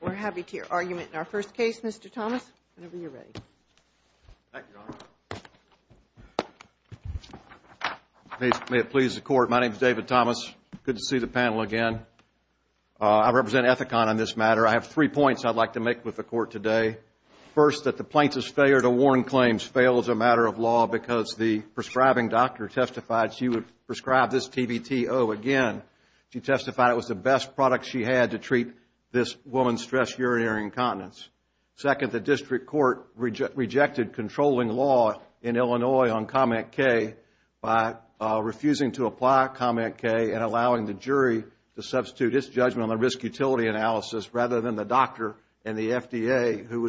We're happy to hear argument in our first case, Mr. Thomas. Whenever you're ready. Thank you, Your Honor. May it please the Court, my name is David Thomas. Good to see the panel again. I represent Ethicon on this matter. I have three points I'd like to make with the Court today. First, that the plaintiff's failure to warn claims fails a matter of law because the prescribing doctor testified she would prescribe this TBTO again. She testified it was the best product she had to treat this woman's stress urinary incontinence. Second, the District Court rejected controlling law in Illinois on COMET-K by refusing to apply COMET-K and allowing the jury to substitute its judgment on the risk-utility analysis rather than the doctor and the FDA, who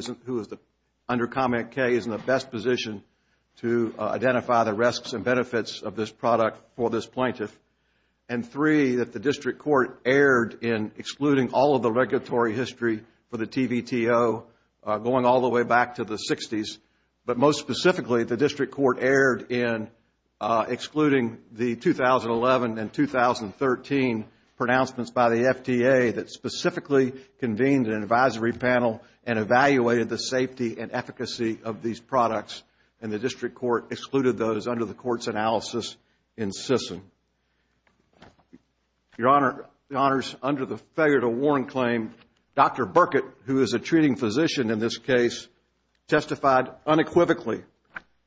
under COMET-K is in the best position to identify the risks and benefits of this product for this plaintiff. And three, that the District Court erred in excluding all of the regulatory history for the TBTO going all the way back to the 60s. But most specifically, the District Court erred in excluding the 2011 and 2013 pronouncements by the FDA that specifically convened an advisory panel and evaluated the safety and efficacy of these products. And the District Court excluded those under the Court's analysis in CISN. Your Honor, the Honors, under the failure to warn claim, Dr. Burkett, who is a treating physician in this case, testified unequivocally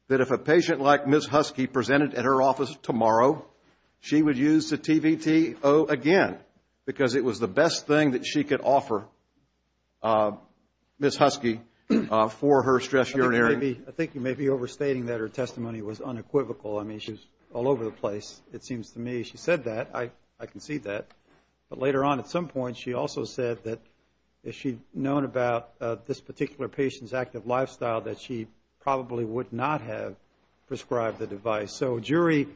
that if a patient like Ms. Husky presented at her office tomorrow, she would use the TBTO again because it was the best thing that she could offer Ms. Husky for her stress urinary. I think you may be overstating that her testimony was unequivocal. I mean, she was all over the place, it seems to me. She said that. I can see that. But later on at some point, she also said that if she'd known about this particular patient's active lifestyle, that she probably would not have prescribed the device. So a jury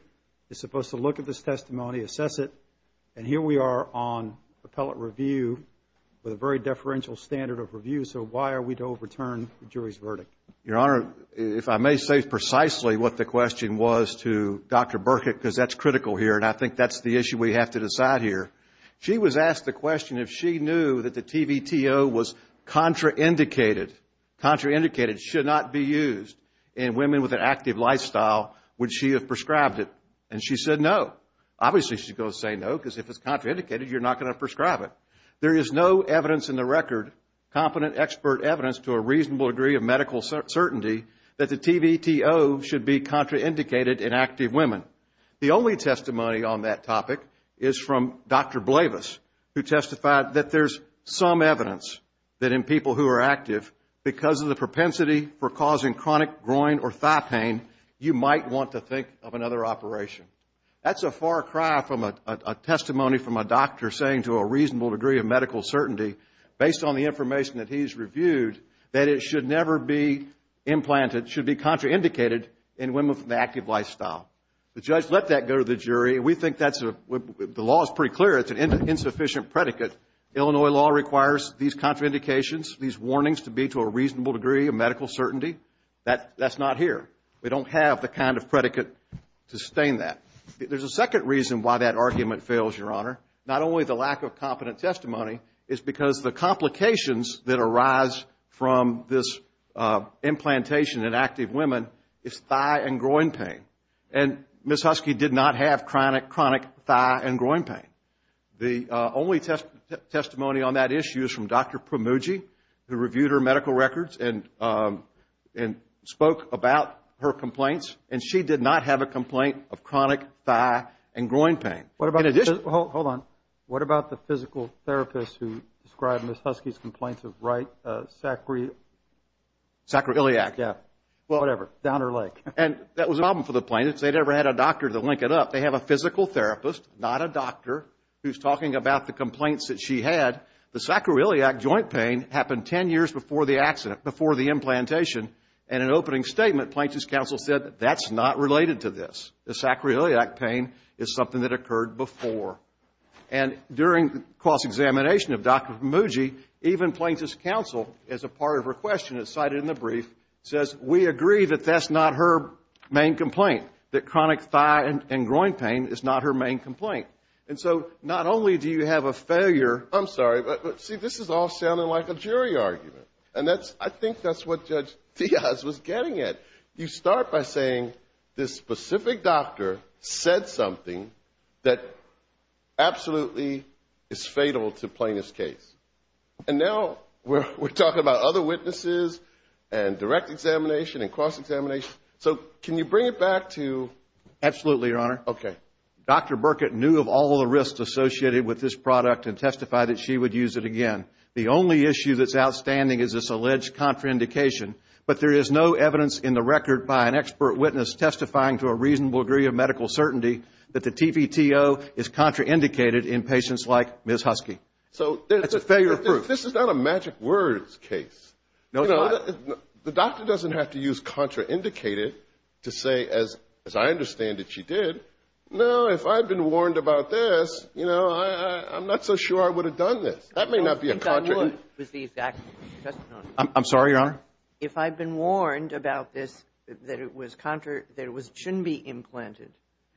is a very deferential standard of review, so why are we to overturn the jury's verdict? Your Honor, if I may say precisely what the question was to Dr. Burkett, because that's critical here, and I think that's the issue we have to decide here. She was asked the question if she knew that the TBTO was contraindicated, contraindicated, should not be used in women with an active lifestyle, would she have prescribed it? And she said no. Obviously she's going to say no, because if it's contraindicated, you're not going to prescribe it. There is no evidence in the record, competent expert evidence to a reasonable degree of medical certainty, that the TBTO should be contraindicated in active women. The only testimony on that topic is from Dr. Blavis, who testified that there's some evidence that in people who are active, because of the propensity for causing chronic groin or thigh pain, you might want to think of another operation. That's a far cry from a testimony from a doctor saying to a reasonable degree of medical certainty, based on the information that he's reviewed, that it should never be implanted, should be contraindicated in women with an active lifestyle. The judge let that go to the jury. We think that's, the law is pretty clear, it's an insufficient predicate. Illinois law requires these contraindications, these warnings to be to a reasonable degree of medical certainty. That's not here. We don't have the kind of predicate to sustain that. There's a second reason why that argument fails, Your Honor. Not only the lack of competent testimony, it's because the complications that arise from this implantation in active women is thigh and groin pain. And Ms. Husky did not have chronic thigh and groin pain. The only testimony on that issue is from Dr. Pramuji, who reviewed her medical records and spoke about her complaints, and she did not have a complaint of chronic thigh and groin pain. What about, hold on, what about the physical therapist who described Ms. Husky's complaints of right sacroiliac? Yeah, whatever, down her leg. And that was a problem for the plaintiffs. They never had a doctor to link it up. They have a physical therapist, not a doctor, who's talking about the complaints that she had. The sacroiliac joint pain happened 10 years before the accident, before the implantation. And in an opening statement, Plaintiff's counsel said, that's not related to this. The sacroiliac pain is something that occurred before. And during cross-examination of Dr. Pramuji, in the brief, says, we agree that that's not her main complaint, that chronic thigh and groin pain is not her main complaint. And so not only do you have a failure I'm sorry, but see, this is all sounding like a jury argument. And that's, I think that's what Judge Diaz was getting at. You start by saying this specific doctor said something that absolutely is fatal to Plaintiff's case. And now we're talking about other witnesses and direct examination and cross-examination. So can you bring it back to... Absolutely, Your Honor. Dr. Burkett knew of all the risks associated with this product and testified that she would use it again. The only issue that's outstanding is this alleged contraindication. But there is no evidence in the record by an expert witness testifying to a reasonable degree of medical certainty that the TVTO is contraindicated in patients like Ms. Husky. So that's a failure of proof. This is not a magic words case. No, it's not. The doctor doesn't have to use contraindicated to say, as I understand it, she did. No, if I'd been warned about this, you know, I'm not so sure I would have done this. That may not be a contraindication. I think I knew it was the exact testimony. I'm sorry, Your Honor. If I'd been warned about this, that it was contraindicated, that it shouldn't be implanted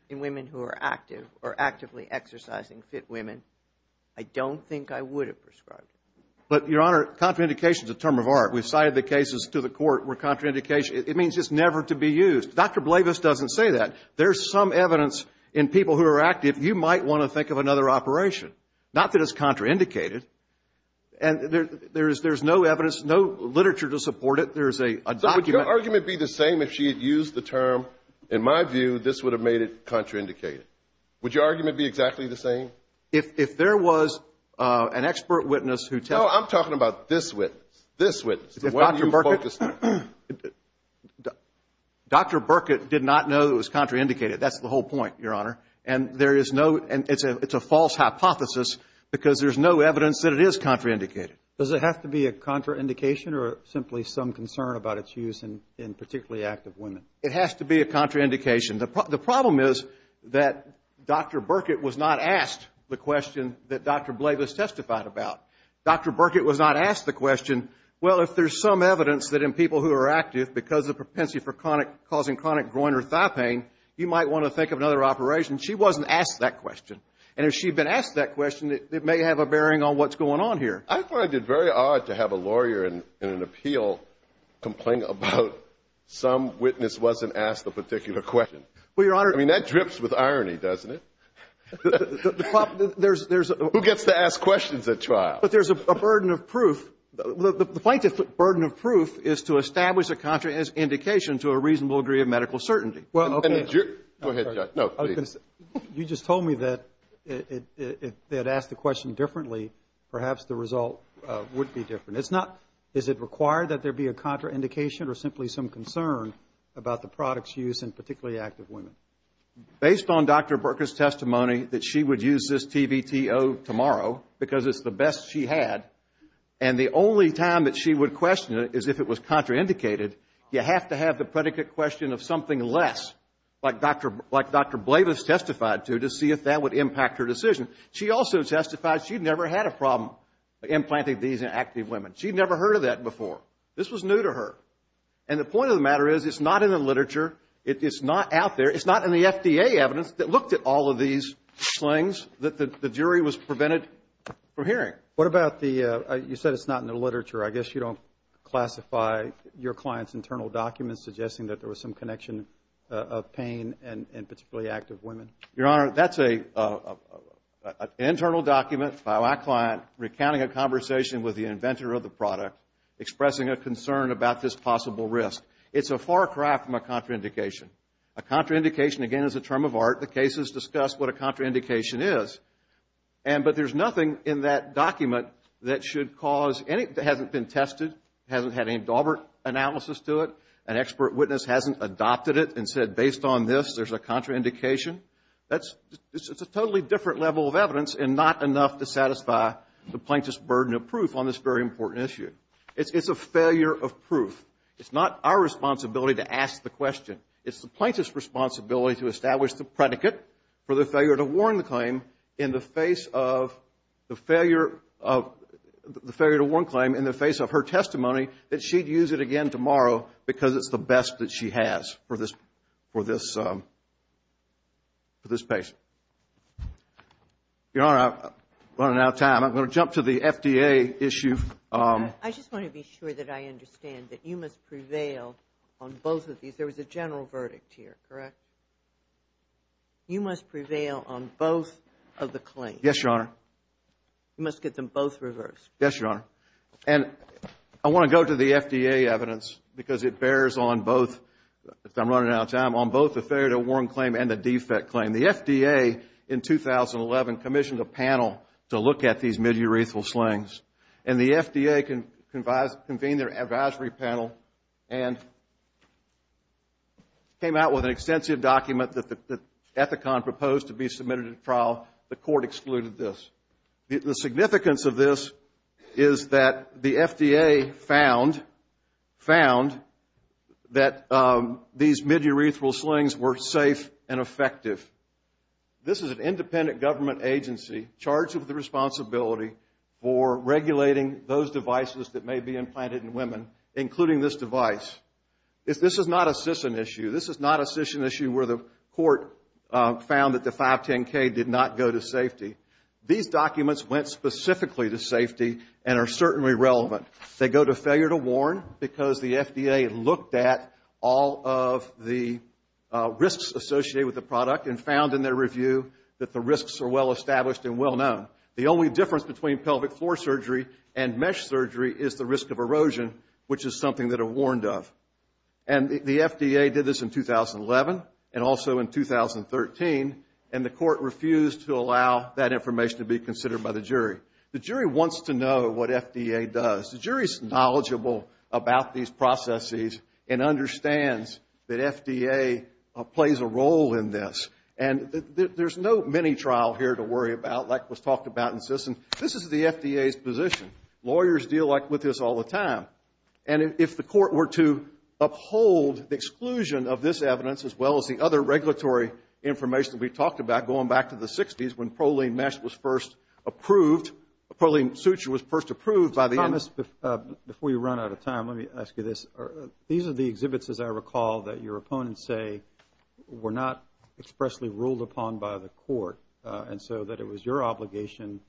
in women who are active or actively exercising FIT women, I don't think I would have prescribed it. But, Your Honor, contraindication is a term of art. We've cited the cases to the court where contraindication, it means it's never to be used. Dr. Blavis doesn't say that. There's some evidence in people who are active, you might want to think of another operation. Not that it's contraindicated. And there's no evidence, no literature to support it. There's a document. So would your argument be the same if she had used the term, in my view, this would have made it contraindicated? Would your argument be exactly the same? If there was an expert witness who testified. No, I'm talking about this witness. This witness. The one you focused on. Dr. Burkitt did not know it was contraindicated. That's the whole point, Your Honor. And there is no, it's a false hypothesis because there's no evidence that it is contraindicated. Does it have to be a contraindication or simply some concern about its use in particularly active women? It has to be a contraindication. The problem is that Dr. Burkitt was not asked the question that Dr. Blavis testified about. Dr. Burkitt was not asked the question, well, if there's some evidence that in people who are active because of propensity for causing chronic groin or thigh pain, you might want to think of another operation. She wasn't asked that question. And if she had been asked that question, it may have a bearing on what's going on here. I find it very odd to have a lawyer in an appeal complain about some witness wasn't asked the particular question. Well, Your Honor. I mean, that drips with irony, doesn't it? Who gets to ask questions at trial? But there's a burden of proof. The plaintiff's burden of proof is to establish a contraindication to a reasonable degree of medical certainty. You just told me that if they had asked the question differently, perhaps the result would be different. It's not, is it required that there be a contraindication or simply some concern about the product's use in particularly active women? Based on Dr. Burkitt's testimony that she would use this TVTO tomorrow, because it's the best she had, and the only time that she would question it is if it was contraindicated, you have to have the predicate question of something less, like Dr. Blavis testified to, to see if that would impact her decision. She also testified she'd never had a problem implanting these in active women. She'd never heard of that before. This was new to her. And the point of the matter is, it's not in the literature, it's not out there, it's not in the FDA evidence that looked at all of these slings that the jury was prevented from hearing. What about the, you said it's not in the literature, I guess you don't classify your client's internal documents suggesting that there was some connection of pain in particularly active women? Your Honor, that's an internal document by my client recounting a conversation with the inventor of the product, expressing a concern about this possible risk. It's a far cry from a contraindication. A contraindication, again, is a term of art. The case has discussed what a contraindication is, but there's nothing in that document that should cause any, that hasn't been tested, hasn't had any Dalbert analysis to it, an expert witness hasn't adopted it and said, based on this, there's a contraindication. It's a totally different level of evidence and not enough to satisfy the plaintiff's burden of proof on this very important issue. It's a failure of proof. It's not our responsibility to ask the question. It's the plaintiff's responsibility to establish the predicate for the failure to warn the claim in the face of her testimony that she'd use it again tomorrow because it's the best that she has for this patient. Your Honor, we're running out of time. I'm going to jump to the FDA issue. I just want to be sure that I understand that you must prevail on both of these. There was a general verdict here, correct? You must prevail on both of the claims. Yes, Your Honor. You must get them both reversed. Yes, Your Honor. And I want to go to the FDA evidence because it bears on both, if I'm running out of time, on both the failure to warn claim and the defect claim. The FDA, in 2011, commissioned a panel to look at these midurethral slings. And the FDA convened their advisory panel and came out with an extensive document that the Ethicon proposed to be submitted to trial. The court excluded this. The significance of this is that the FDA found that these midurethral slings were safe and effective. This is an independent government agency charged with the responsibility for regulating those devices that may be implanted in women, including this device. This is not a CISN issue. This is not a CISN issue where the court found that the 510K did not go to safety. These documents went specifically to safety and are certainly relevant. They go to failure to warn because the FDA looked at all of the risks associated with the product and found in their review that the risks are well established and well known. The only difference between pelvic floor surgery and mesh surgery is the risk of erosion, which is something that are warned of. And the FDA did this in 2011 and also in 2013, and the court refused to allow that information to be considered by the jury. The jury wants to know what FDA does. The jury is knowledgeable about these processes and understands that FDA plays a role in this. And there's no mini-trial here to worry about like was talked about in CISN. This is the FDA's position. Lawyers deal with this all the time. And if the court were to uphold the exclusion of this evidence as well as the other regulatory information that we talked about going back to the 60s when proline mesh was first approved, proline suture was first approved by the MS... Before you run out of time, let me ask you this. These are the exhibits, as I recall, that your opponents say were not expressly ruled upon by the court and so that it was your obligation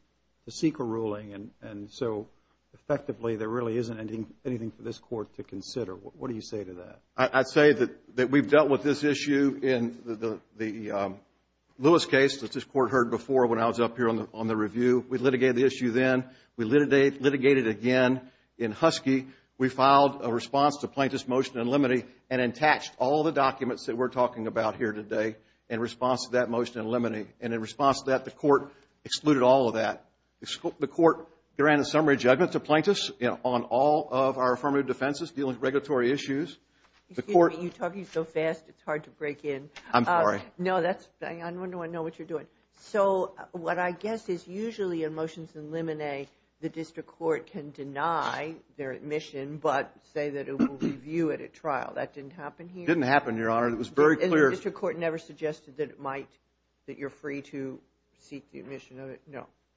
to seek a ruling. And so, effectively, there really isn't anything for this court to consider. What do you say to that? I'd say that we've dealt with this issue in the Lewis case that this court heard before when I was up here on the review. We litigated the issue then. We litigated it again in Husky. We filed a response to plaintiff's motion in limine and attached all the documents that we're talking about here today in response to that motion in limine. And in response to that, the court excluded all of that. The court granted summary judgment to plaintiffs on all of our affirmative defenses dealing with regulatory issues. Excuse me. You're talking so fast, it's hard to break in. I'm sorry. No, I know what you're doing. So what I guess is usually in motions in limine, the district court can deny their admission but say that it will review it at trial. That didn't happen here? It didn't happen, Your Honor.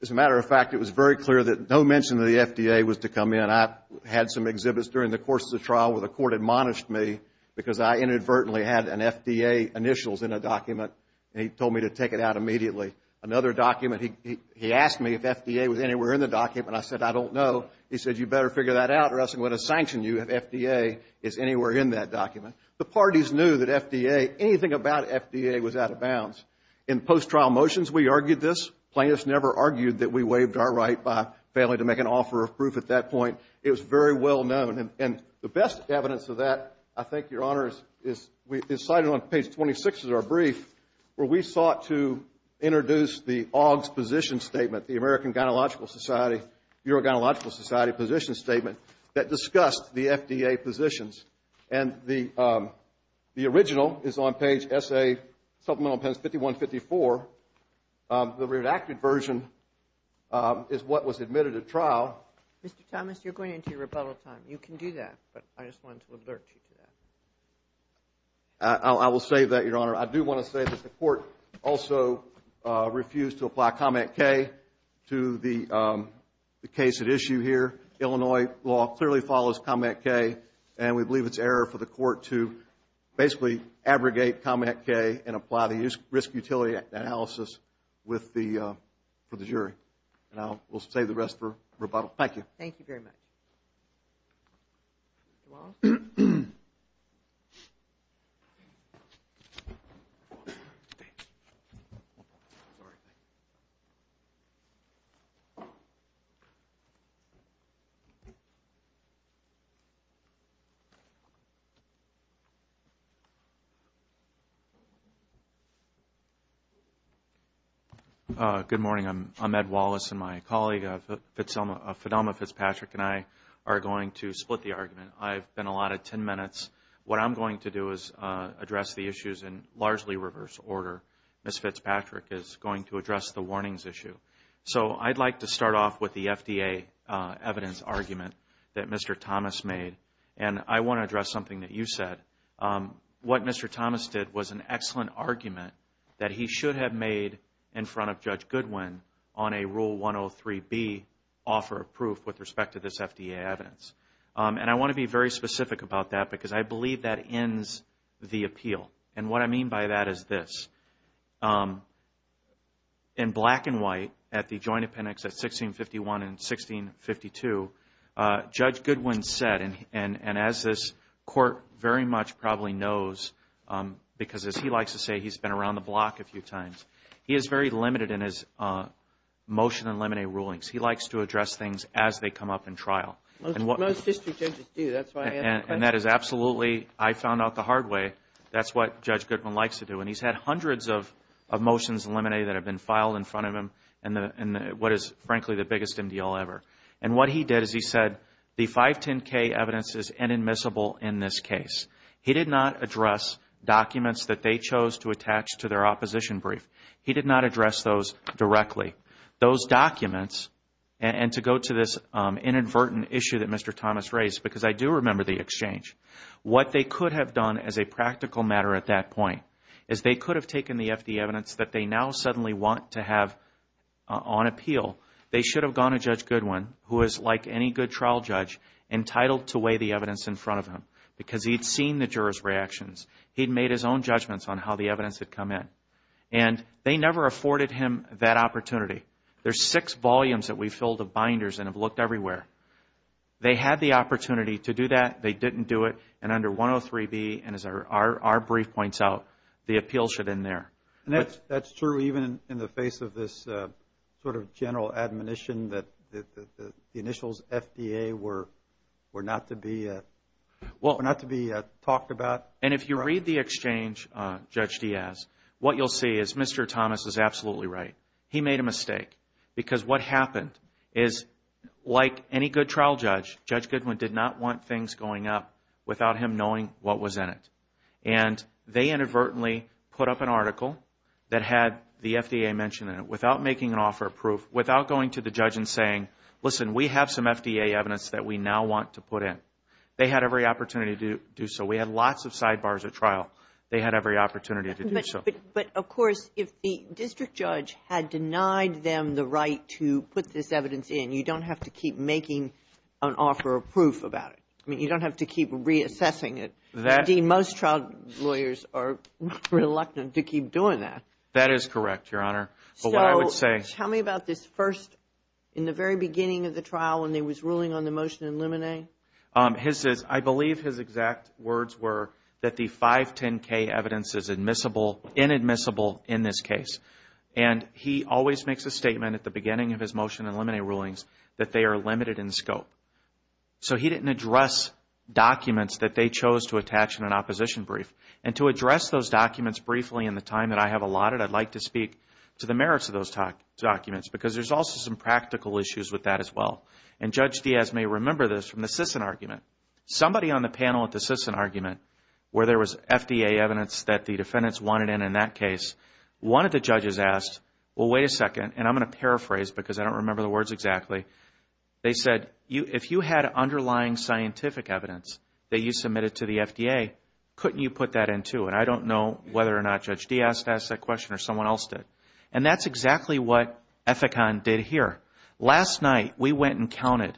As a matter of fact, it was very clear that no mention of the FDA was to come in. I had some exhibits during the course of the trial where the court admonished me because I inadvertently had an FDA initials in a document and he told me to take it out immediately. Another document, he asked me if FDA was anywhere in the document. I said, I don't know. He said, you better figure that out or else I'm going to sanction you if FDA is anywhere in that document. The parties knew that FDA, anything about FDA was out of bounds. In post-trial motions, we argued this. Plaintiffs never argued that we waived our right by failing to make an offer of proof at that point. It was very well known. And the best evidence of that, I think, Your Honor, is cited on page 26 of our brief where we sought to introduce the AUGS position statement, the American Urogyneological Society position statement that discussed the FDA positions. The original is on page SA, supplemental appendix 5154. The redacted version is what was admitted at trial. Mr. Thomas, you're going into your rebuttal time. You can do that, but I just wanted to alert you to that. I will say that, Your Honor, I do want to say that the court also refused to apply comment K to the case at issue here. Illinois law clearly follows comment K, and we believe it's error for the court to basically abrogate comment K and apply the risk utility analysis for the jury. And I will save the rest for rebuttal. Thank you. Thank you very much. Mr. Wallace? Good morning. I'm Ed Wallace, and my colleague Fidelma Fitzpatrick and I are going to split the argument. I've been allotted 10 minutes. What I'm going to do is address the issues in largely reverse order. Ms. Fitzpatrick is going to address the warnings issue. So I'd like to start off with the FDA evidence argument that Mr. Thomas made, and I want to address something that you said. What Mr. Thomas did was an excellent argument that he should have made in front of Judge Goodwin on a Rule 103B offer of proof with respect to this FDA evidence. And I want to be very specific about that because I believe that ends the appeal. And what I mean by that is this. In black and white at the joint appendix at 1651 and 1652, Judge Goodwin said, and as this court very much probably knows, because as he likes to say, he's been around the block a few times, he is very limited in his motion and lemonade rulings. He likes to address things as they come up in trial. And that is absolutely, I found out the hard way, that's what Judge Goodwin likes to do. And he's had hundreds of motions and lemonade that have been filed in front of him, and what is frankly the biggest indeal ever. And what he did is he said, the 510K evidence is inadmissible in this case. He did not address documents that they chose to attach to their opposition brief. He did not address those directly. Those documents, and to go to this inadvertent issue that Mr. Thomas raised, because I do remember the exchange, what they could have done as a practical matter at that point is they could have taken the FDA evidence that they now suddenly want to have on appeal. They should have gone to Judge Goodwin, who is like any good trial judge, entitled to weigh the evidence in front of him, because he'd seen the jurors' reactions. He'd made his own judgments on how the evidence had come in. And they never afforded him that opportunity. There's six volumes that we've filled of binders and have looked everywhere. They had the opportunity to do that, they didn't do it, and under 103B, and as our brief points out, the appeals should end there. And that's true even in the face of this sort of general admonition that the initials FDA were not to be talked about? And if you read the exchange, Judge Diaz, what you'll see is Mr. Thomas is absolutely right. He made a mistake, because what happened is, like any good trial judge, Judge Goodwin did not want things going up without him knowing what was in it. And they inadvertently put up an article that had the FDA mentioned in it, without making an offer of proof, without going to the judge and saying, listen, we have some FDA evidence that we now want to put in. They had every opportunity to do so. We had lots of sidebars at trial. They had every opportunity to do so. But, of course, if the district judge had denied them the right to put this evidence in, you don't have to keep making an offer of proof about it. I mean, you don't have to keep reassessing it. Indeed, most trial lawyers are reluctant to keep doing that. That is correct, Your Honor. So tell me about this first, in the very beginning of the trial, when they was ruling on the motion in Limine? I believe his exact words were that the 510K evidence is admissible, inadmissible in this case. And he always makes a statement at the beginning of his motion in Limine rulings that they are limited in scope. So he didn't address documents that they chose to attach in an opposition brief. And to address those documents briefly in the time that I have allotted, I'd like to speak to the merits of those documents, because there's also some practical issues with that as well. And Judge Diaz may remember this from the Sisson argument. Somebody on the panel at the Sisson argument, where there was FDA evidence that the defendants wanted in, in that case, one of the judges asked, well, wait a second, and I'm going to paraphrase because I don't remember the words exactly. They said, if you had underlying scientific evidence that you submitted to the FDA, couldn't you put that in too? And I don't know whether or not Judge Diaz asked that question or someone else did. And that's exactly what Ethicon did here. Last night, we went and counted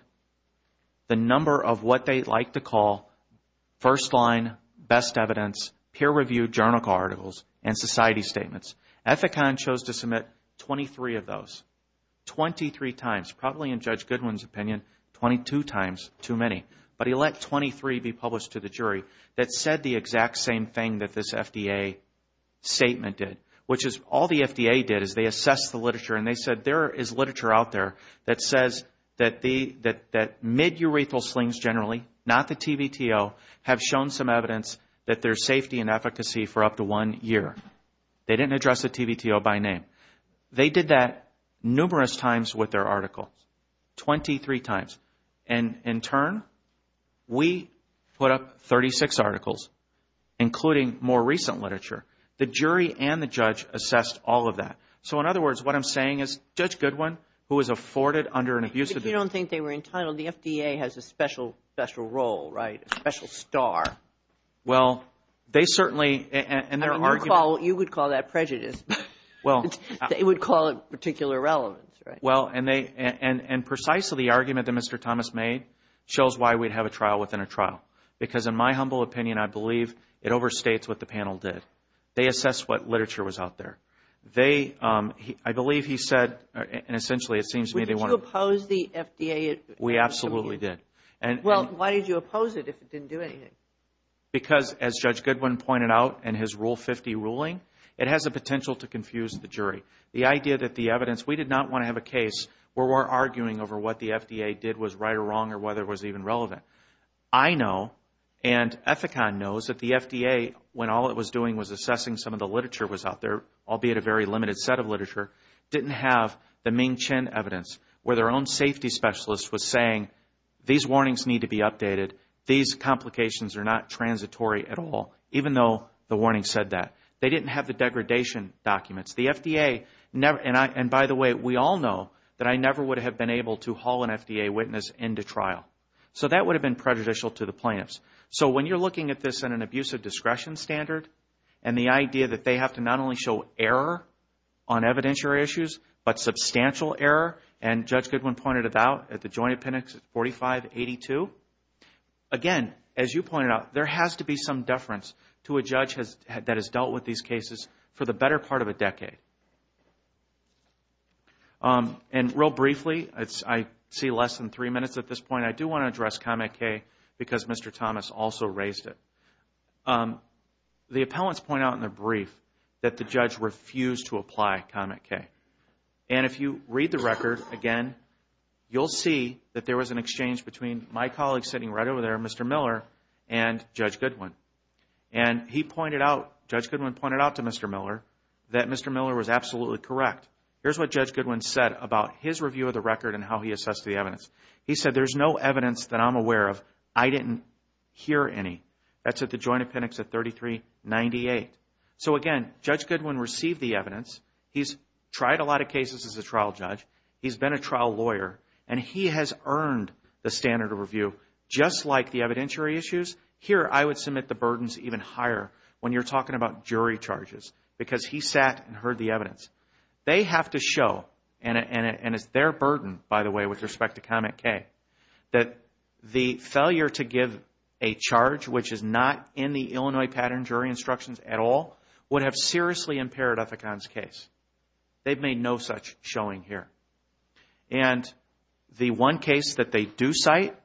the number of what they like to call first line, best evidence, peer reviewed journal articles, and society statements. Ethicon chose to submit 23 of those. 23 times. Probably in Judge Goodwin's opinion, 22 times too many. But he let 23 be published to the jury that said the exact same thing that this FDA statement did, which is all the FDA did is they assessed the literature and they said there is literature out there that says that midurethral slings generally, not the TVTO, have shown some evidence that there's safety and efficacy for up to one year. They didn't address the TVTO by name. They did that numerous times with their articles. 23 times. And in turn, we put up 36 articles, including more recent literature. The jury and the judge assessed all of that. So in other words, what I'm saying is Judge Goodwin, who was afforded under an abusive If you don't think they were entitled, the FDA has a special, special role, right? A special star. Well, they certainly, and their argument You would call that prejudice. They would call it particular relevance, right? Well, and precisely the argument that Mr. Thomas made shows why we'd have a trial within a trial. Because in my humble opinion, I believe it overstates what the panel did. They assessed what literature was out there. They, I believe he said, and essentially it seems to me they wanted Would you oppose the FDA? We absolutely did. Well, why did you oppose it if it didn't do anything? Because as Judge Goodwin pointed out in his Rule 50 ruling, it has the potential to confuse the jury. The idea that the evidence, we did not want to have a case where we're arguing over what the FDA did was right or wrong or whether it was even relevant. I know, and Ethicon knows, that the FDA, when all it was doing was assessing some of the literature that was out there, albeit a very limited set of literature, didn't have the Ming Chin evidence where their own safety specialist was saying These warnings need to be updated. These complications are not transitory at all. Even though the warning said that. They didn't have the degradation documents. The FDA, and by the way, we all know that I never would have been able to haul an FDA witness into trial. So that would have been prejudicial to the plaintiffs. So when you're looking at this in an abusive discretion standard, and the idea that they have to not only show error on evidentiary issues, but substantial error, and Judge Goodwin pointed it out at the Joint Appendix 4582. Again, as you pointed out, there has to be some deference to a judge that has dealt with these cases for the better part of a decade. And real briefly, I see less than three minutes at this point. I do want to address Comet K because Mr. Thomas also raised it. The appellants point out in their brief that the judge refused to apply Comet K. And if you read the record again, you'll see that there was an exchange between my colleague sitting right over there, Mr. Miller, and Judge Goodwin. And Judge Goodwin pointed out to Mr. Miller that Mr. Miller was absolutely correct. Here's what Judge Goodwin said about his review of the record and how he assessed the evidence. He said, there's no evidence that I'm aware of. I didn't hear any. That's at the Joint Appendix 3398. So again, Judge Goodwin received the evidence. He's tried a lot of cases as a trial judge. He's been a trial lawyer. And he has earned the standard of review, just like the evidentiary issues. Here, I would submit the burdens even higher when you're talking about jury charges. Because he sat and heard the evidence. They have to show, and it's their burden, by the way, with respect to Comet K, that the failure to give a charge which is not in the Illinois Pattern Jury Instructions at all would have seriously impaired Ethicon's case. They've made no such showing here. And the one case that they do cite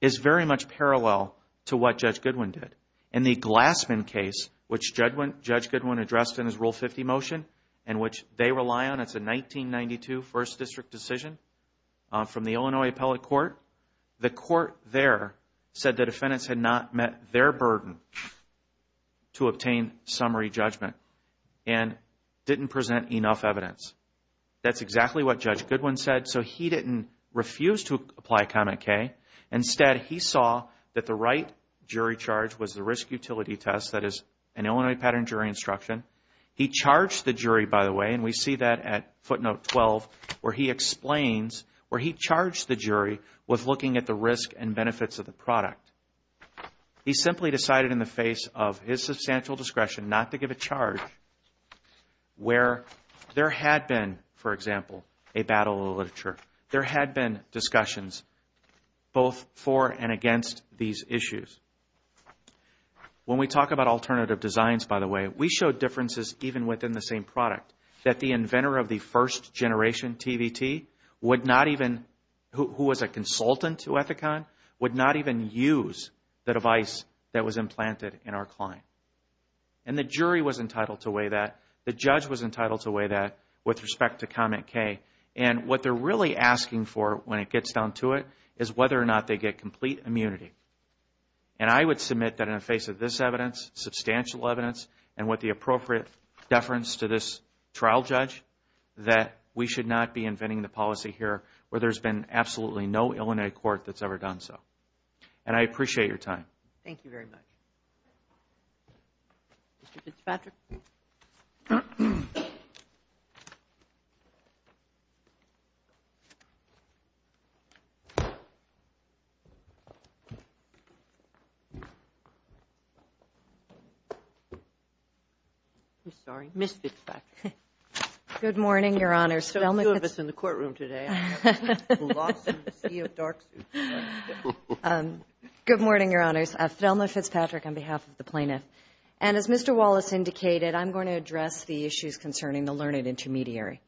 is very much parallel to what Judge Goodwin did. In the Glassman case, which Judge Goodwin addressed in his Rule 50 motion, and which they rely on, it's a 1992 First District decision from the Illinois Appellate Court. The court there said the defendants had not met their burden to obtain summary judgment and didn't present enough evidence. That's exactly what Judge Goodwin said. So he didn't refuse to apply Comet K. Instead, he saw that the right jury charge was the Risk Utility Test, that is an Illinois Pattern Jury Instruction. He charged the jury, by the way, and we see that at footnote 12, where he explains where he charged the jury with looking at the risk and benefits of the product. He simply decided in the face of his substantial discretion not to give a charge where there had been, for example, a battle of the literature. There had been discussions both for and against these issues. When we talk about alternative designs, by the way, we show differences even within the same product, that the inventor of the first-generation TVT would not even, who was a consultant to Ethicon, would not even use the device that was implanted in our client. And the jury was entitled to weigh that. The judge was entitled to weigh that with respect to Comet K. And what they're really asking for when it gets down to it is whether or not they get complete immunity. And I would submit that in the face of this evidence, substantial evidence, and with the appropriate deference to this trial judge, that we should not be inventing the policy here where there's been absolutely no Illinois court that's ever done so. And I appreciate your time. Thank you very much. Mr. Fitzpatrick? I'm sorry. Ms. Fitzpatrick. Good morning, Your Honors. There are two of us in the courtroom today. Lost in the sea of dark suits. Good morning, Your Honors. Thelma Fitzpatrick on behalf of the plaintiff. And as Mr. Wallace indicated, I'm going to address the issues concerning the learned intermediary.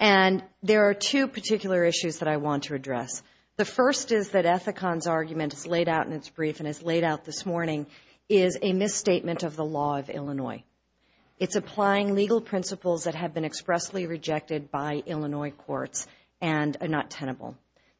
And there are two particular issues that I want to address. The first is that Ethicon's argument is laid out in its brief and is laid out this morning is a misstatement of the law of Illinois. It's applying legal principles that have been expressly rejected by Illinois courts and are not tenable.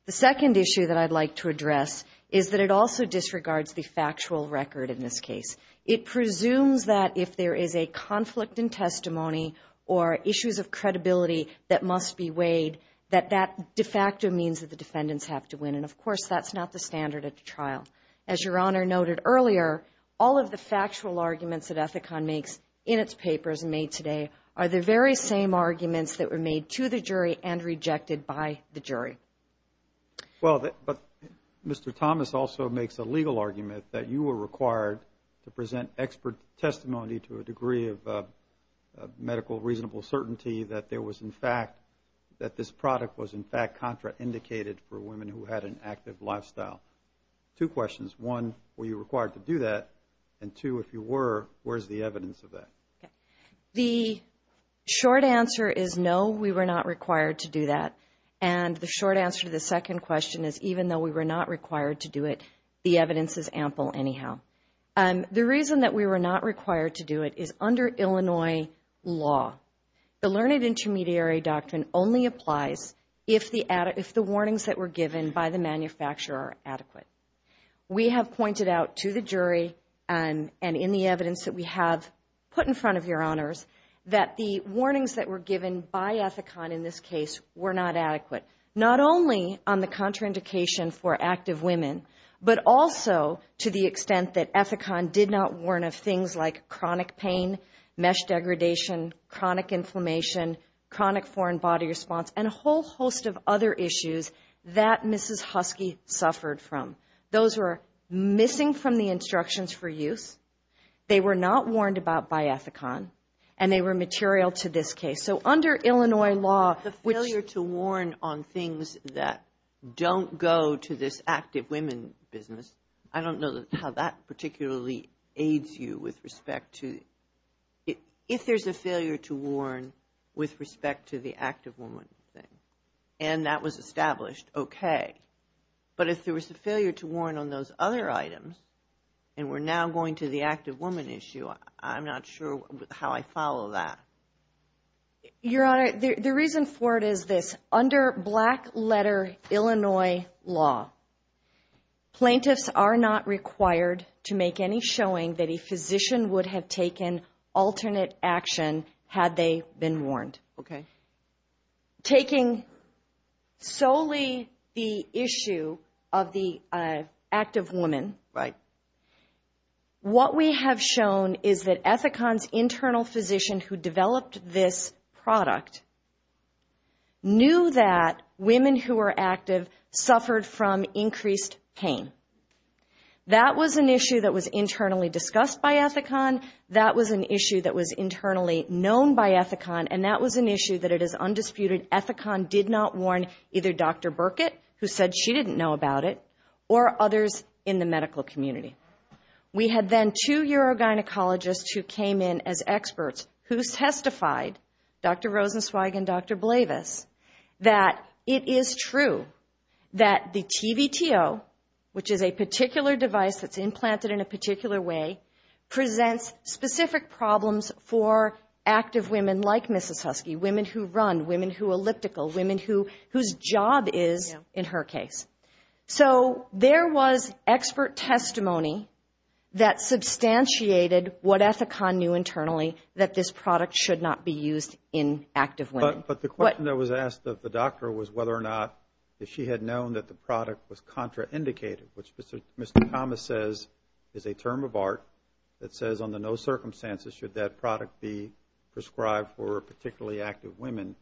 The second issue that I'd like to address is that it also disregards the factual record in this case. It presumes that if there is a conflict in testimony or issues of credibility that must be weighed, that that de facto means that the defendants have to win. And, of course, that's not the standard at the trial. As Your Honor noted earlier, all of the factual arguments that Ethicon makes in its papers made today are the very same arguments that were made to the jury and rejected by the jury. Well, but Mr. Thomas also makes a legal argument that you were required to present expert testimony to a degree of medical reasonable certainty that there was, in fact, that this product was, in fact, contraindicated for women who had an active lifestyle. Two questions. One, were you required to do that? And two, if you were, where's the evidence of that? The short answer is, no, we were not required to do that. And the short answer to the second question is, even though we were not required to do it, the evidence is ample anyhow. The reason that we were not required to do it is under Illinois law. The Learned Intermediary Doctrine only applies if the warnings that were given by the manufacturer are adequate. We have pointed out to the jury and in the evidence that we have put in front of your honors that the warnings that were given by Ethicon in this case were not adequate, not only on the contraindication for active women, but also to the extent that Ethicon did not warn of things like chronic pain, mesh degradation, chronic inflammation, chronic foreign body response, and a whole host of other issues that Mrs. Husky suffered from. Those were missing from the instructions for use. They were not warned about by Ethicon, and they were material to this case. So under Illinois law, which – The failure to warn on things that don't go to this active women business, I don't know how that particularly aids you with respect to – If there's a failure to warn with respect to the active woman thing and that was established, okay. But if there was a failure to warn on those other items and we're now going to the active woman issue, I'm not sure how I follow that. Your Honor, the reason for it is this. Under black-letter Illinois law, plaintiffs are not required to make any showing that a physician would have taken alternate action had they been warned. Okay. Taking solely the issue of the active woman, what we have shown is that Ethicon's internal physician who developed this product knew that women who were active suffered from increased pain. That was an issue that was internally discussed by Ethicon. That was an issue that was internally known by Ethicon, and that was an issue that it is undisputed Ethicon did not warn either Dr. Burkett, who said she didn't know about it, or others in the medical community. We had then two urogynecologists who came in as experts who testified, Dr. Rosenzweig and Dr. Blavis, that it is true that the TVTO, which is a particular device that's implanted in a particular way, presents specific problems for active women like Mrs. Husky, women who run, women who elliptical, women whose job is, in her case. So there was expert testimony that substantiated what Ethicon knew internally, that this product should not be used in active women. But the question that was asked of the doctor was whether or not, if she had known that the product was contraindicated, which Mr. Thomas says is a term of art that says under no circumstances should that product be prescribed for particularly active women.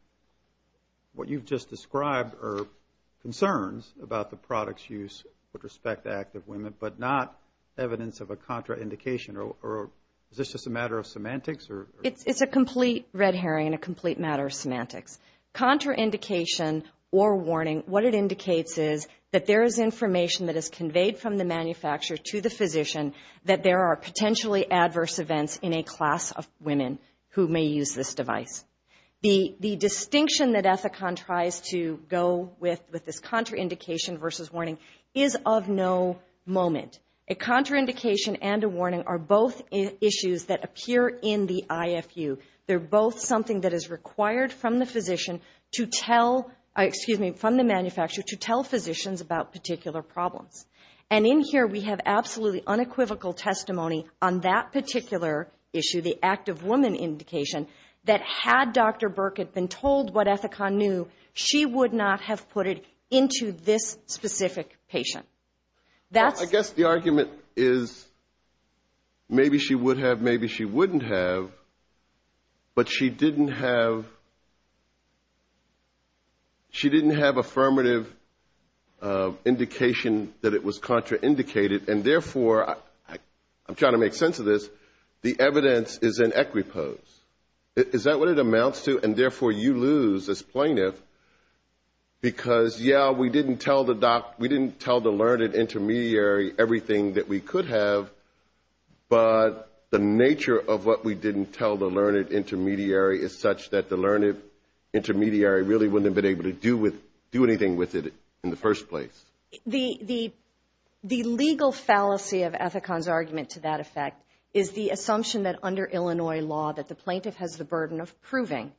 What you've just described are concerns about the product's use with respect to active women, but not evidence of a contraindication, or is this just a matter of semantics? It's a complete red herring and a complete matter of semantics. Contraindication or warning, what it indicates is that there is information that is conveyed from the manufacturer to the physician that there are potentially adverse events in a class of women who may use this device. The distinction that Ethicon tries to go with with this contraindication versus warning is of no moment. A contraindication and a warning are both issues that appear in the IFU. They're both something that is required from the physician to tell, excuse me, from the manufacturer to tell physicians about particular problems. And in here we have absolutely unequivocal testimony on that particular issue, the active woman indication, that had Dr. Burke had been told what Ethicon knew, she would not have put it into this specific patient. I guess the argument is maybe she would have, maybe she wouldn't have, but she didn't have affirmative indication that it was contraindicated, and therefore, I'm trying to make sense of this, the evidence is in equipose. Is that what it amounts to? And therefore, you lose as plaintiff because, yeah, we didn't tell the learned intermediary everything that we could have, but the nature of what we didn't tell the learned intermediary is such that the learned intermediary really wouldn't have been able to do anything with it in the first place. The legal fallacy of Ethicon's argument to that effect is the assumption that under Illinois law, that the plaintiff has the burden of proving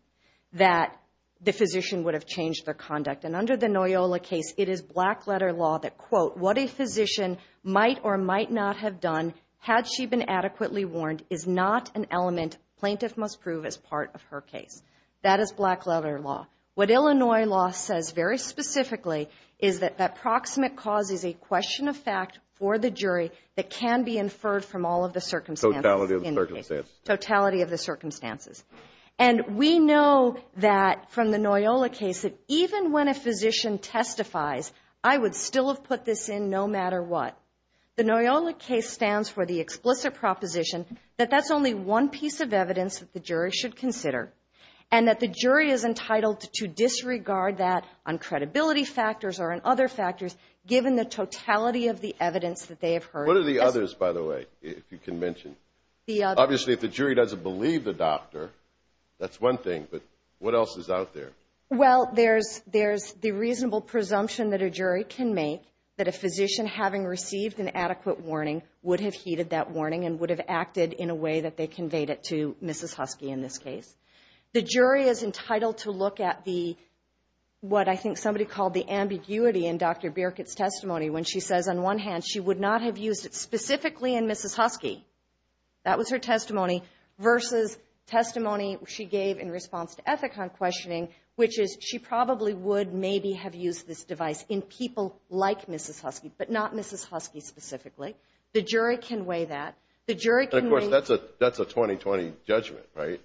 that the physician would have changed their conduct. And under the Noyola case, it is black-letter law that, quote, what a physician might or might not have done had she been adequately warned is not an element plaintiff must prove as part of her case. That is black-letter law. What Illinois law says very specifically is that that proximate cause is a question of fact for the jury that can be inferred from all of the circumstances. Totality of the circumstances. And we know that from the Noyola case that even when a physician testifies, I would still have put this in no matter what. The Noyola case stands for the explicit proposition that that's only one piece of evidence that the jury should consider, and that the jury is entitled to disregard that on credibility factors or on other factors given the totality of the evidence that they have heard. What are the others, by the way, if you can mention? Obviously, if the jury doesn't believe the doctor, that's one thing, but what else is out there? Well, there's the reasonable presumption that a jury can make that a physician having received an adequate warning would have heeded that warning and would have acted in a way that they conveyed it to Mrs. Husky in this case. The jury is entitled to look at the what I think somebody called the ambiguity in Dr. Birkett's testimony when she says on one hand she would not have used it specifically in Mrs. Husky. That was her testimony versus testimony she gave in response to Ethicon questioning, which is she probably would maybe have used this device in people like Mrs. Husky, but not Mrs. Husky specifically. The jury can weigh that. Of course, that's a 2020 judgment, right?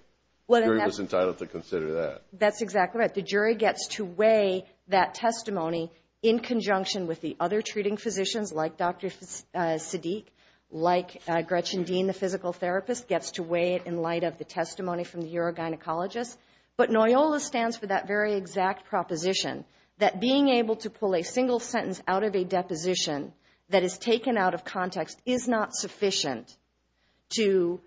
The jury was entitled to consider that. That's exactly right. The jury gets to weigh that testimony in conjunction with the other treating physicians like Dr. Siddique, like Gretchen Dean, the physical therapist, gets to weigh it in light of the testimony from the urogynecologist. But NOYOLA stands for that very exact proposition, that being able to pull a single sentence out of a deposition that is taken out of context is not sufficient to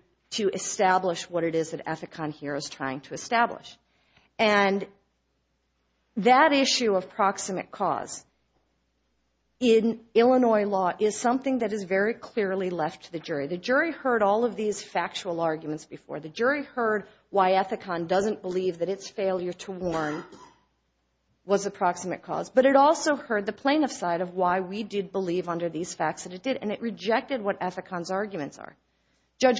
establish what it is that Ethicon here is trying to establish. And that issue of proximate cause in Illinois law is something that is very clearly left to the jury. The jury heard all of these factual arguments before. The jury heard why Ethicon doesn't believe that its failure to warn was a proximate cause, but it also heard the plaintiff's side of why we did believe under these facts that it did, and it rejected what Ethicon's arguments are. And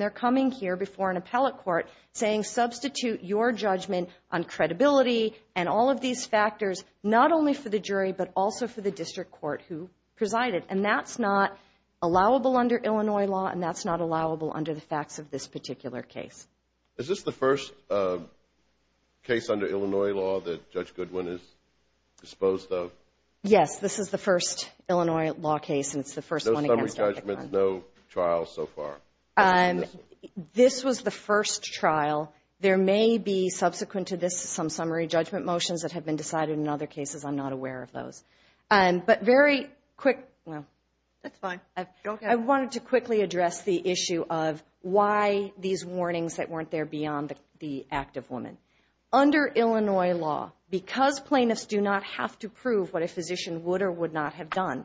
they're coming here before an appellate court saying, substitute your judgment on credibility and all of these factors, not only for the jury, but also for the district court who presided. And that's not allowable under Illinois law, and that's not allowable under the facts of this particular case. Is this the first case under Illinois law that Judge Goodwin is disposed of? Yes, this is the first Illinois law case, and it's the first one against Ethicon. No summary judgments, no trials so far? This was the first trial. There may be subsequent to this some summary judgment motions that have been decided in other cases. I'm not aware of those. But very quick. I wanted to quickly address the issue of why these warnings that weren't there beyond the act of woman. Under Illinois law, because plaintiffs do not have to prove what a physician would or would not have done,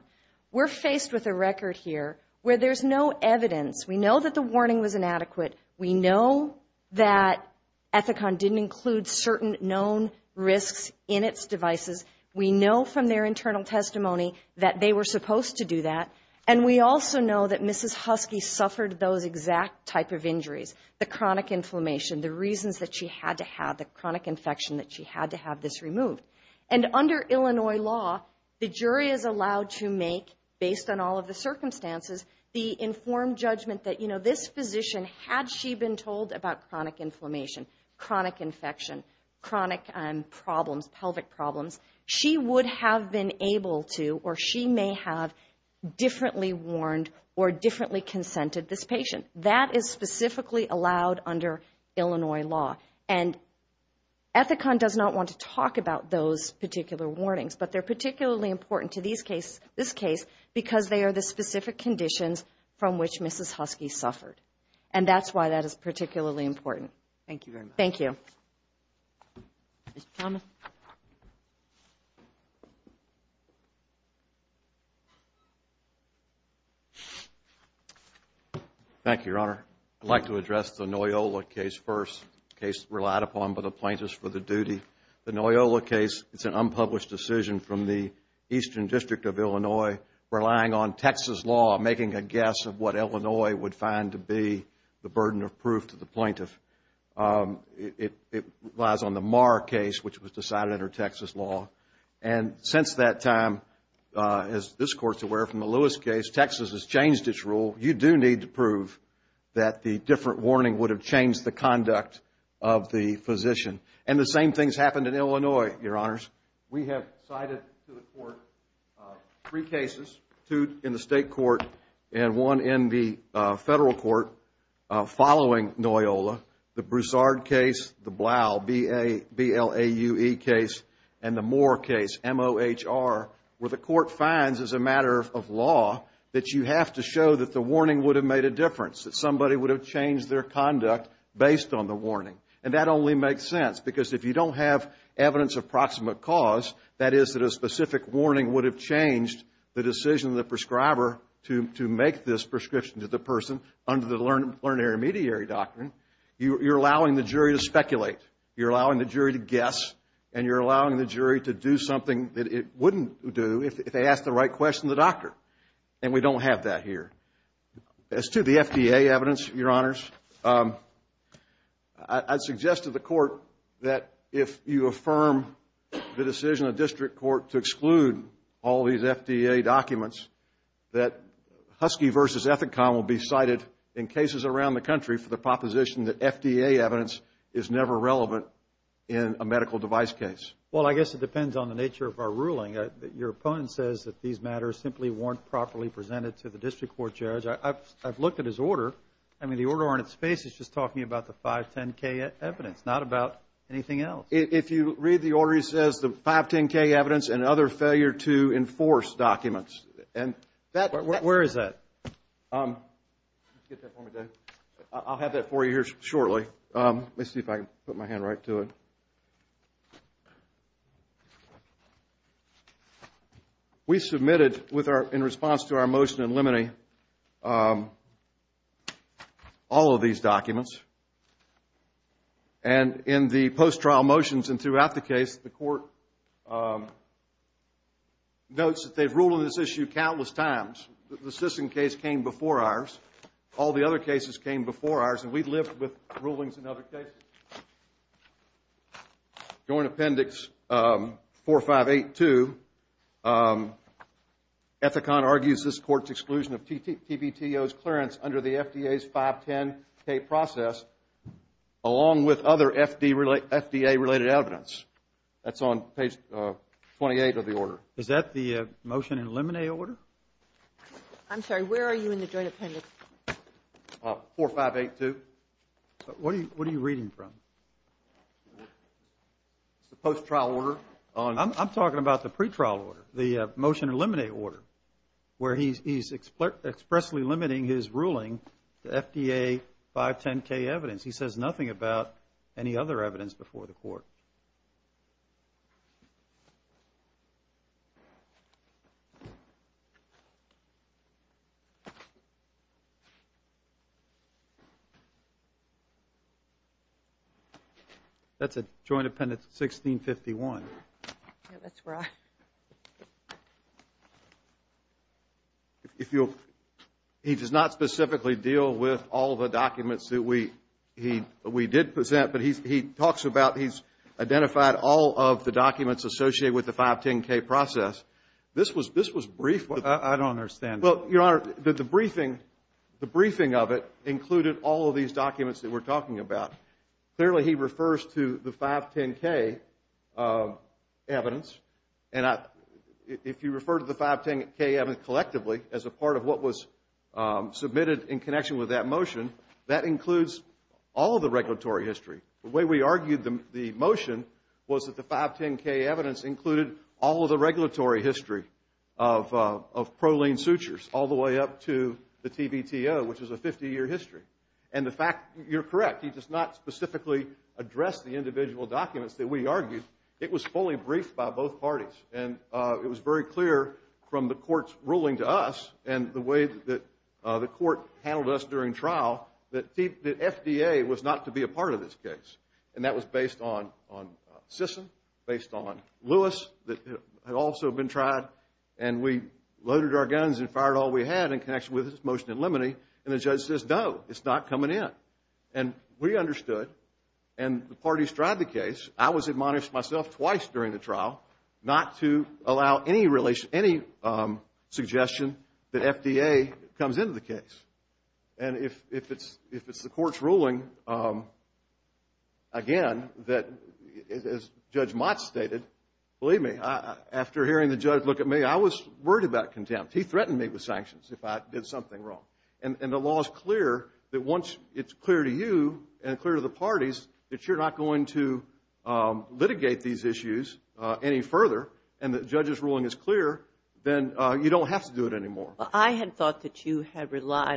we're faced with a record here where there's no evidence. We know that the warning was inadequate. We know that Ethicon didn't include certain known risks in its devices. We know from their internal testimony that they were supposed to do that. And we also know that Mrs. Husky suffered those exact type of injuries, the chronic inflammation, the reasons that she had to have, the chronic infection that she had to have this removed. And under Illinois law, the jury is allowed to make, based on all of the circumstances, the informed judgment that this physician, had she been told about chronic inflammation, chronic infection, chronic problems, pelvic problems, she would have been able to or she may have differently warned or differently consented this patient. That is specifically allowed under Illinois law. And Ethicon does not want to talk about those particular warnings, but they're particularly important to these cases, this case, because they are the specific conditions from which Mrs. Husky suffered. And that's why that is particularly important. Thank you. Thank you, Your Honor. I'd like to address the Noyola case first, a case relied upon by the plaintiffs for the duty. The Noyola case, it's an unpublished decision from the Eastern District of Illinois, relying on Texas law, making a guess of what Illinois would find to be the burden of proof to the plaintiff. It relies on the Marr case, which was decided under Texas law. And since that time, as this Court's aware from the Lewis case, Texas has changed its rule. You do need to prove that the different warning would have changed the conduct of the physician. And the same things happened in Illinois, Your Honors. We have cited to the Court three cases, two in the state court and one in the federal court, following Noyola, the Broussard case, the Blau, B-L-A-U-E case, and the Moore case, M-O-H-R, where the Court finds as a matter of law that you have to show that the warning would have made a difference, that somebody would have changed their conduct based on the warning. And that only makes sense because if you don't have evidence of proximate cause, that is that a specific warning would have changed the decision of the prescriber to make this prescription to the person under the learned intermediary doctrine, you're allowing the jury to speculate, you're allowing the jury to guess, and you're allowing the jury to do something that it wouldn't do if they asked the right question to the doctor. And we don't have that here. As to the FDA evidence, Your Honors, I'd suggest to the Court that if you affirm the decision of district court to exclude all these FDA documents, that Husky v. Ethicon will be cited in cases around the country for the proposition that FDA evidence is never relevant in a medical device case. Well, I guess it depends on the nature of our ruling. Your opponent says that these matters simply weren't properly presented to the district court judge. I've looked at his order. I mean, the order on its face is just talking about the 510K evidence, not about anything else. If you read the order, it says the 510K evidence and other failure to enforce documents. Where is that? I'll have that for you here shortly. Let's see if I can put my hand right to it. We submitted, in response to our motion in limine, all of these documents. And in the post-trial motions and throughout the case, the Court notes that they've ruled on this issue countless times. The Sisson case came before ours. All the other cases came before ours, and we've lived with rulings in other cases. Joint Appendix 4582. Ethicon argues this Court's exclusion of TBTO's clearance under the FDA's 510K process, along with other FDA-related evidence. That's on page 28 of the order. Is that the motion in limine order? I'm sorry, where are you in the Joint Appendix? 4582. What are you reading from? It's the post-trial order. I'm talking about the pretrial order, the motion in limine order, where he's expressly limiting his ruling to FDA 510K evidence. He says nothing about any other evidence before the Court. That's a Joint Appendix 1651. He does not specifically deal with all the documents that we did present, but he talks about, he's identified all of the documents associated with the 510K process. The briefing of it included all of these documents that we're talking about. Clearly, he refers to the 510K evidence, and if you refer to the 510K evidence collectively as a part of what was submitted in connection with that motion, that includes all of the regulatory history. The way we argued the motion was that the 510K evidence included all of the regulatory history of proline sutures, all the way up to the TBTO, which is a 50-year history. And the fact, you're correct, he does not specifically address the individual documents that we argued. It was fully briefed by both parties. And it was very clear from the Court's ruling to us and the way that the Court handled us during trial that FDA was not to be a part of this case. And that was based on Sisson, based on Lewis, that had also been tried. And we loaded our guns and fired all we had in connection with this motion in limine, and the judge says, no, it's not coming in. And we understood, and the parties tried the case. I was admonished myself twice during the trial not to try the case. And if it's the Court's ruling, again, as Judge Mott stated, believe me, after hearing the judge look at me, I was worried about contempt. He threatened me with sanctions if I did something wrong. And the law is clear that once it's clear to you and clear to the parties that you're not going to litigate these issues any further and that you relied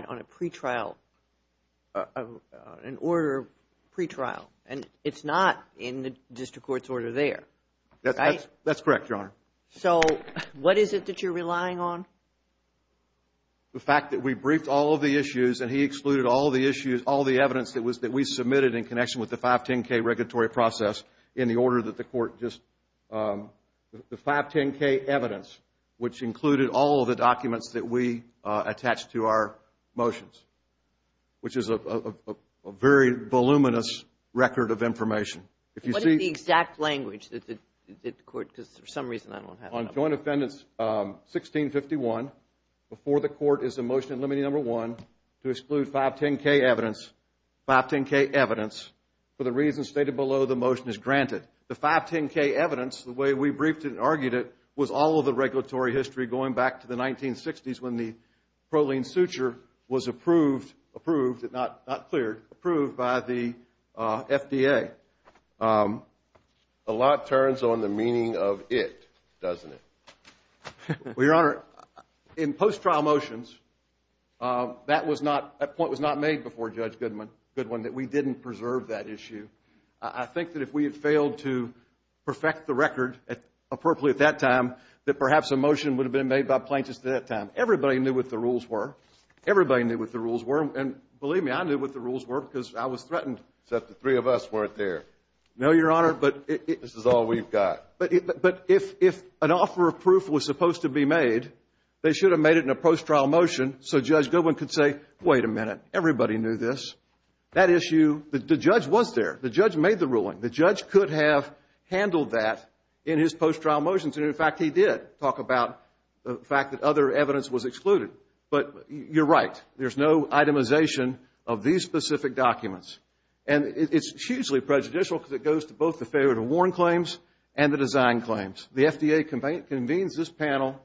on a pre-trial, an order of pre-trial. And it's not in the District Court's order there, right? That's correct, Your Honor. So what is it that you're relying on? The fact that we briefed all of the issues and he excluded all the evidence that we submitted in connection with the 510K regulatory process in the order that the Court just, the 510K evidence, which included all of the documents that we attached to our motions, which is a very voluminous record of information. What is the exact language that the Court, because for some reason I don't have it. On Joint Offendance 1651, before the Court is a motion limiting number one to exclude 510K evidence, 510K evidence, for the reasons stated below the motion is granted. The 510K evidence, the way we briefed it and argued it, was all of the regulatory history going back to the 1960s when the proline suture was approved, not cleared, approved by the FDA. A lot turns on the meaning of it, doesn't it? Well, Your Honor, in post-trial motions, that we didn't preserve that issue. I think that if we had failed to perfect the record appropriately at that time, that perhaps a motion would have been made by plaintiffs at that time. Everybody knew what the rules were. And believe me, I knew what the rules were because I was threatened. Except the three of us weren't there. No, Your Honor. This is all we've got. But if an offer of proof was supposed to be made, they should have made it in a post-trial motion so Judge Goodwin could say, wait a minute, everybody knew this. The judge was there. The judge made the ruling. The judge could have handled that in his post-trial motions. In fact, he did talk about the fact that other evidence was excluded. But you're right. There's no itemization of these specific documents. And it's hugely prejudicial because it goes to both the failure to warn claims and the design claims. The FDA convenes this panel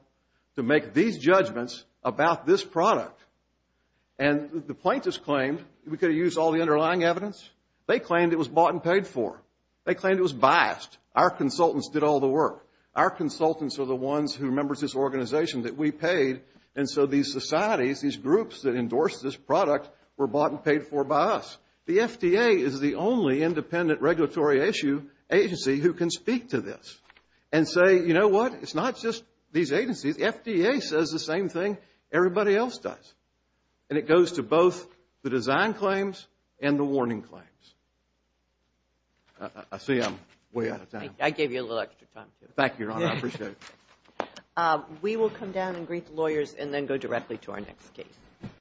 to make these judgments about this product. And the plaintiffs claimed we could have used all the underlying evidence. They claimed it was bought and paid for. They claimed it was biased. Our consultants did all the work. Our consultants are the ones who members of this organization that we paid. And so these societies, these groups that endorsed this product were bought and paid for by us. The FDA is the only independent regulatory issue agency who can speak to this and say, you know what, it's not just these agencies. The FDA says the same thing everybody else does. And it goes to both the design claims and the warning claims. I see I'm way out of time. I gave you a little extra time. Thank you, Your Honor. I appreciate it.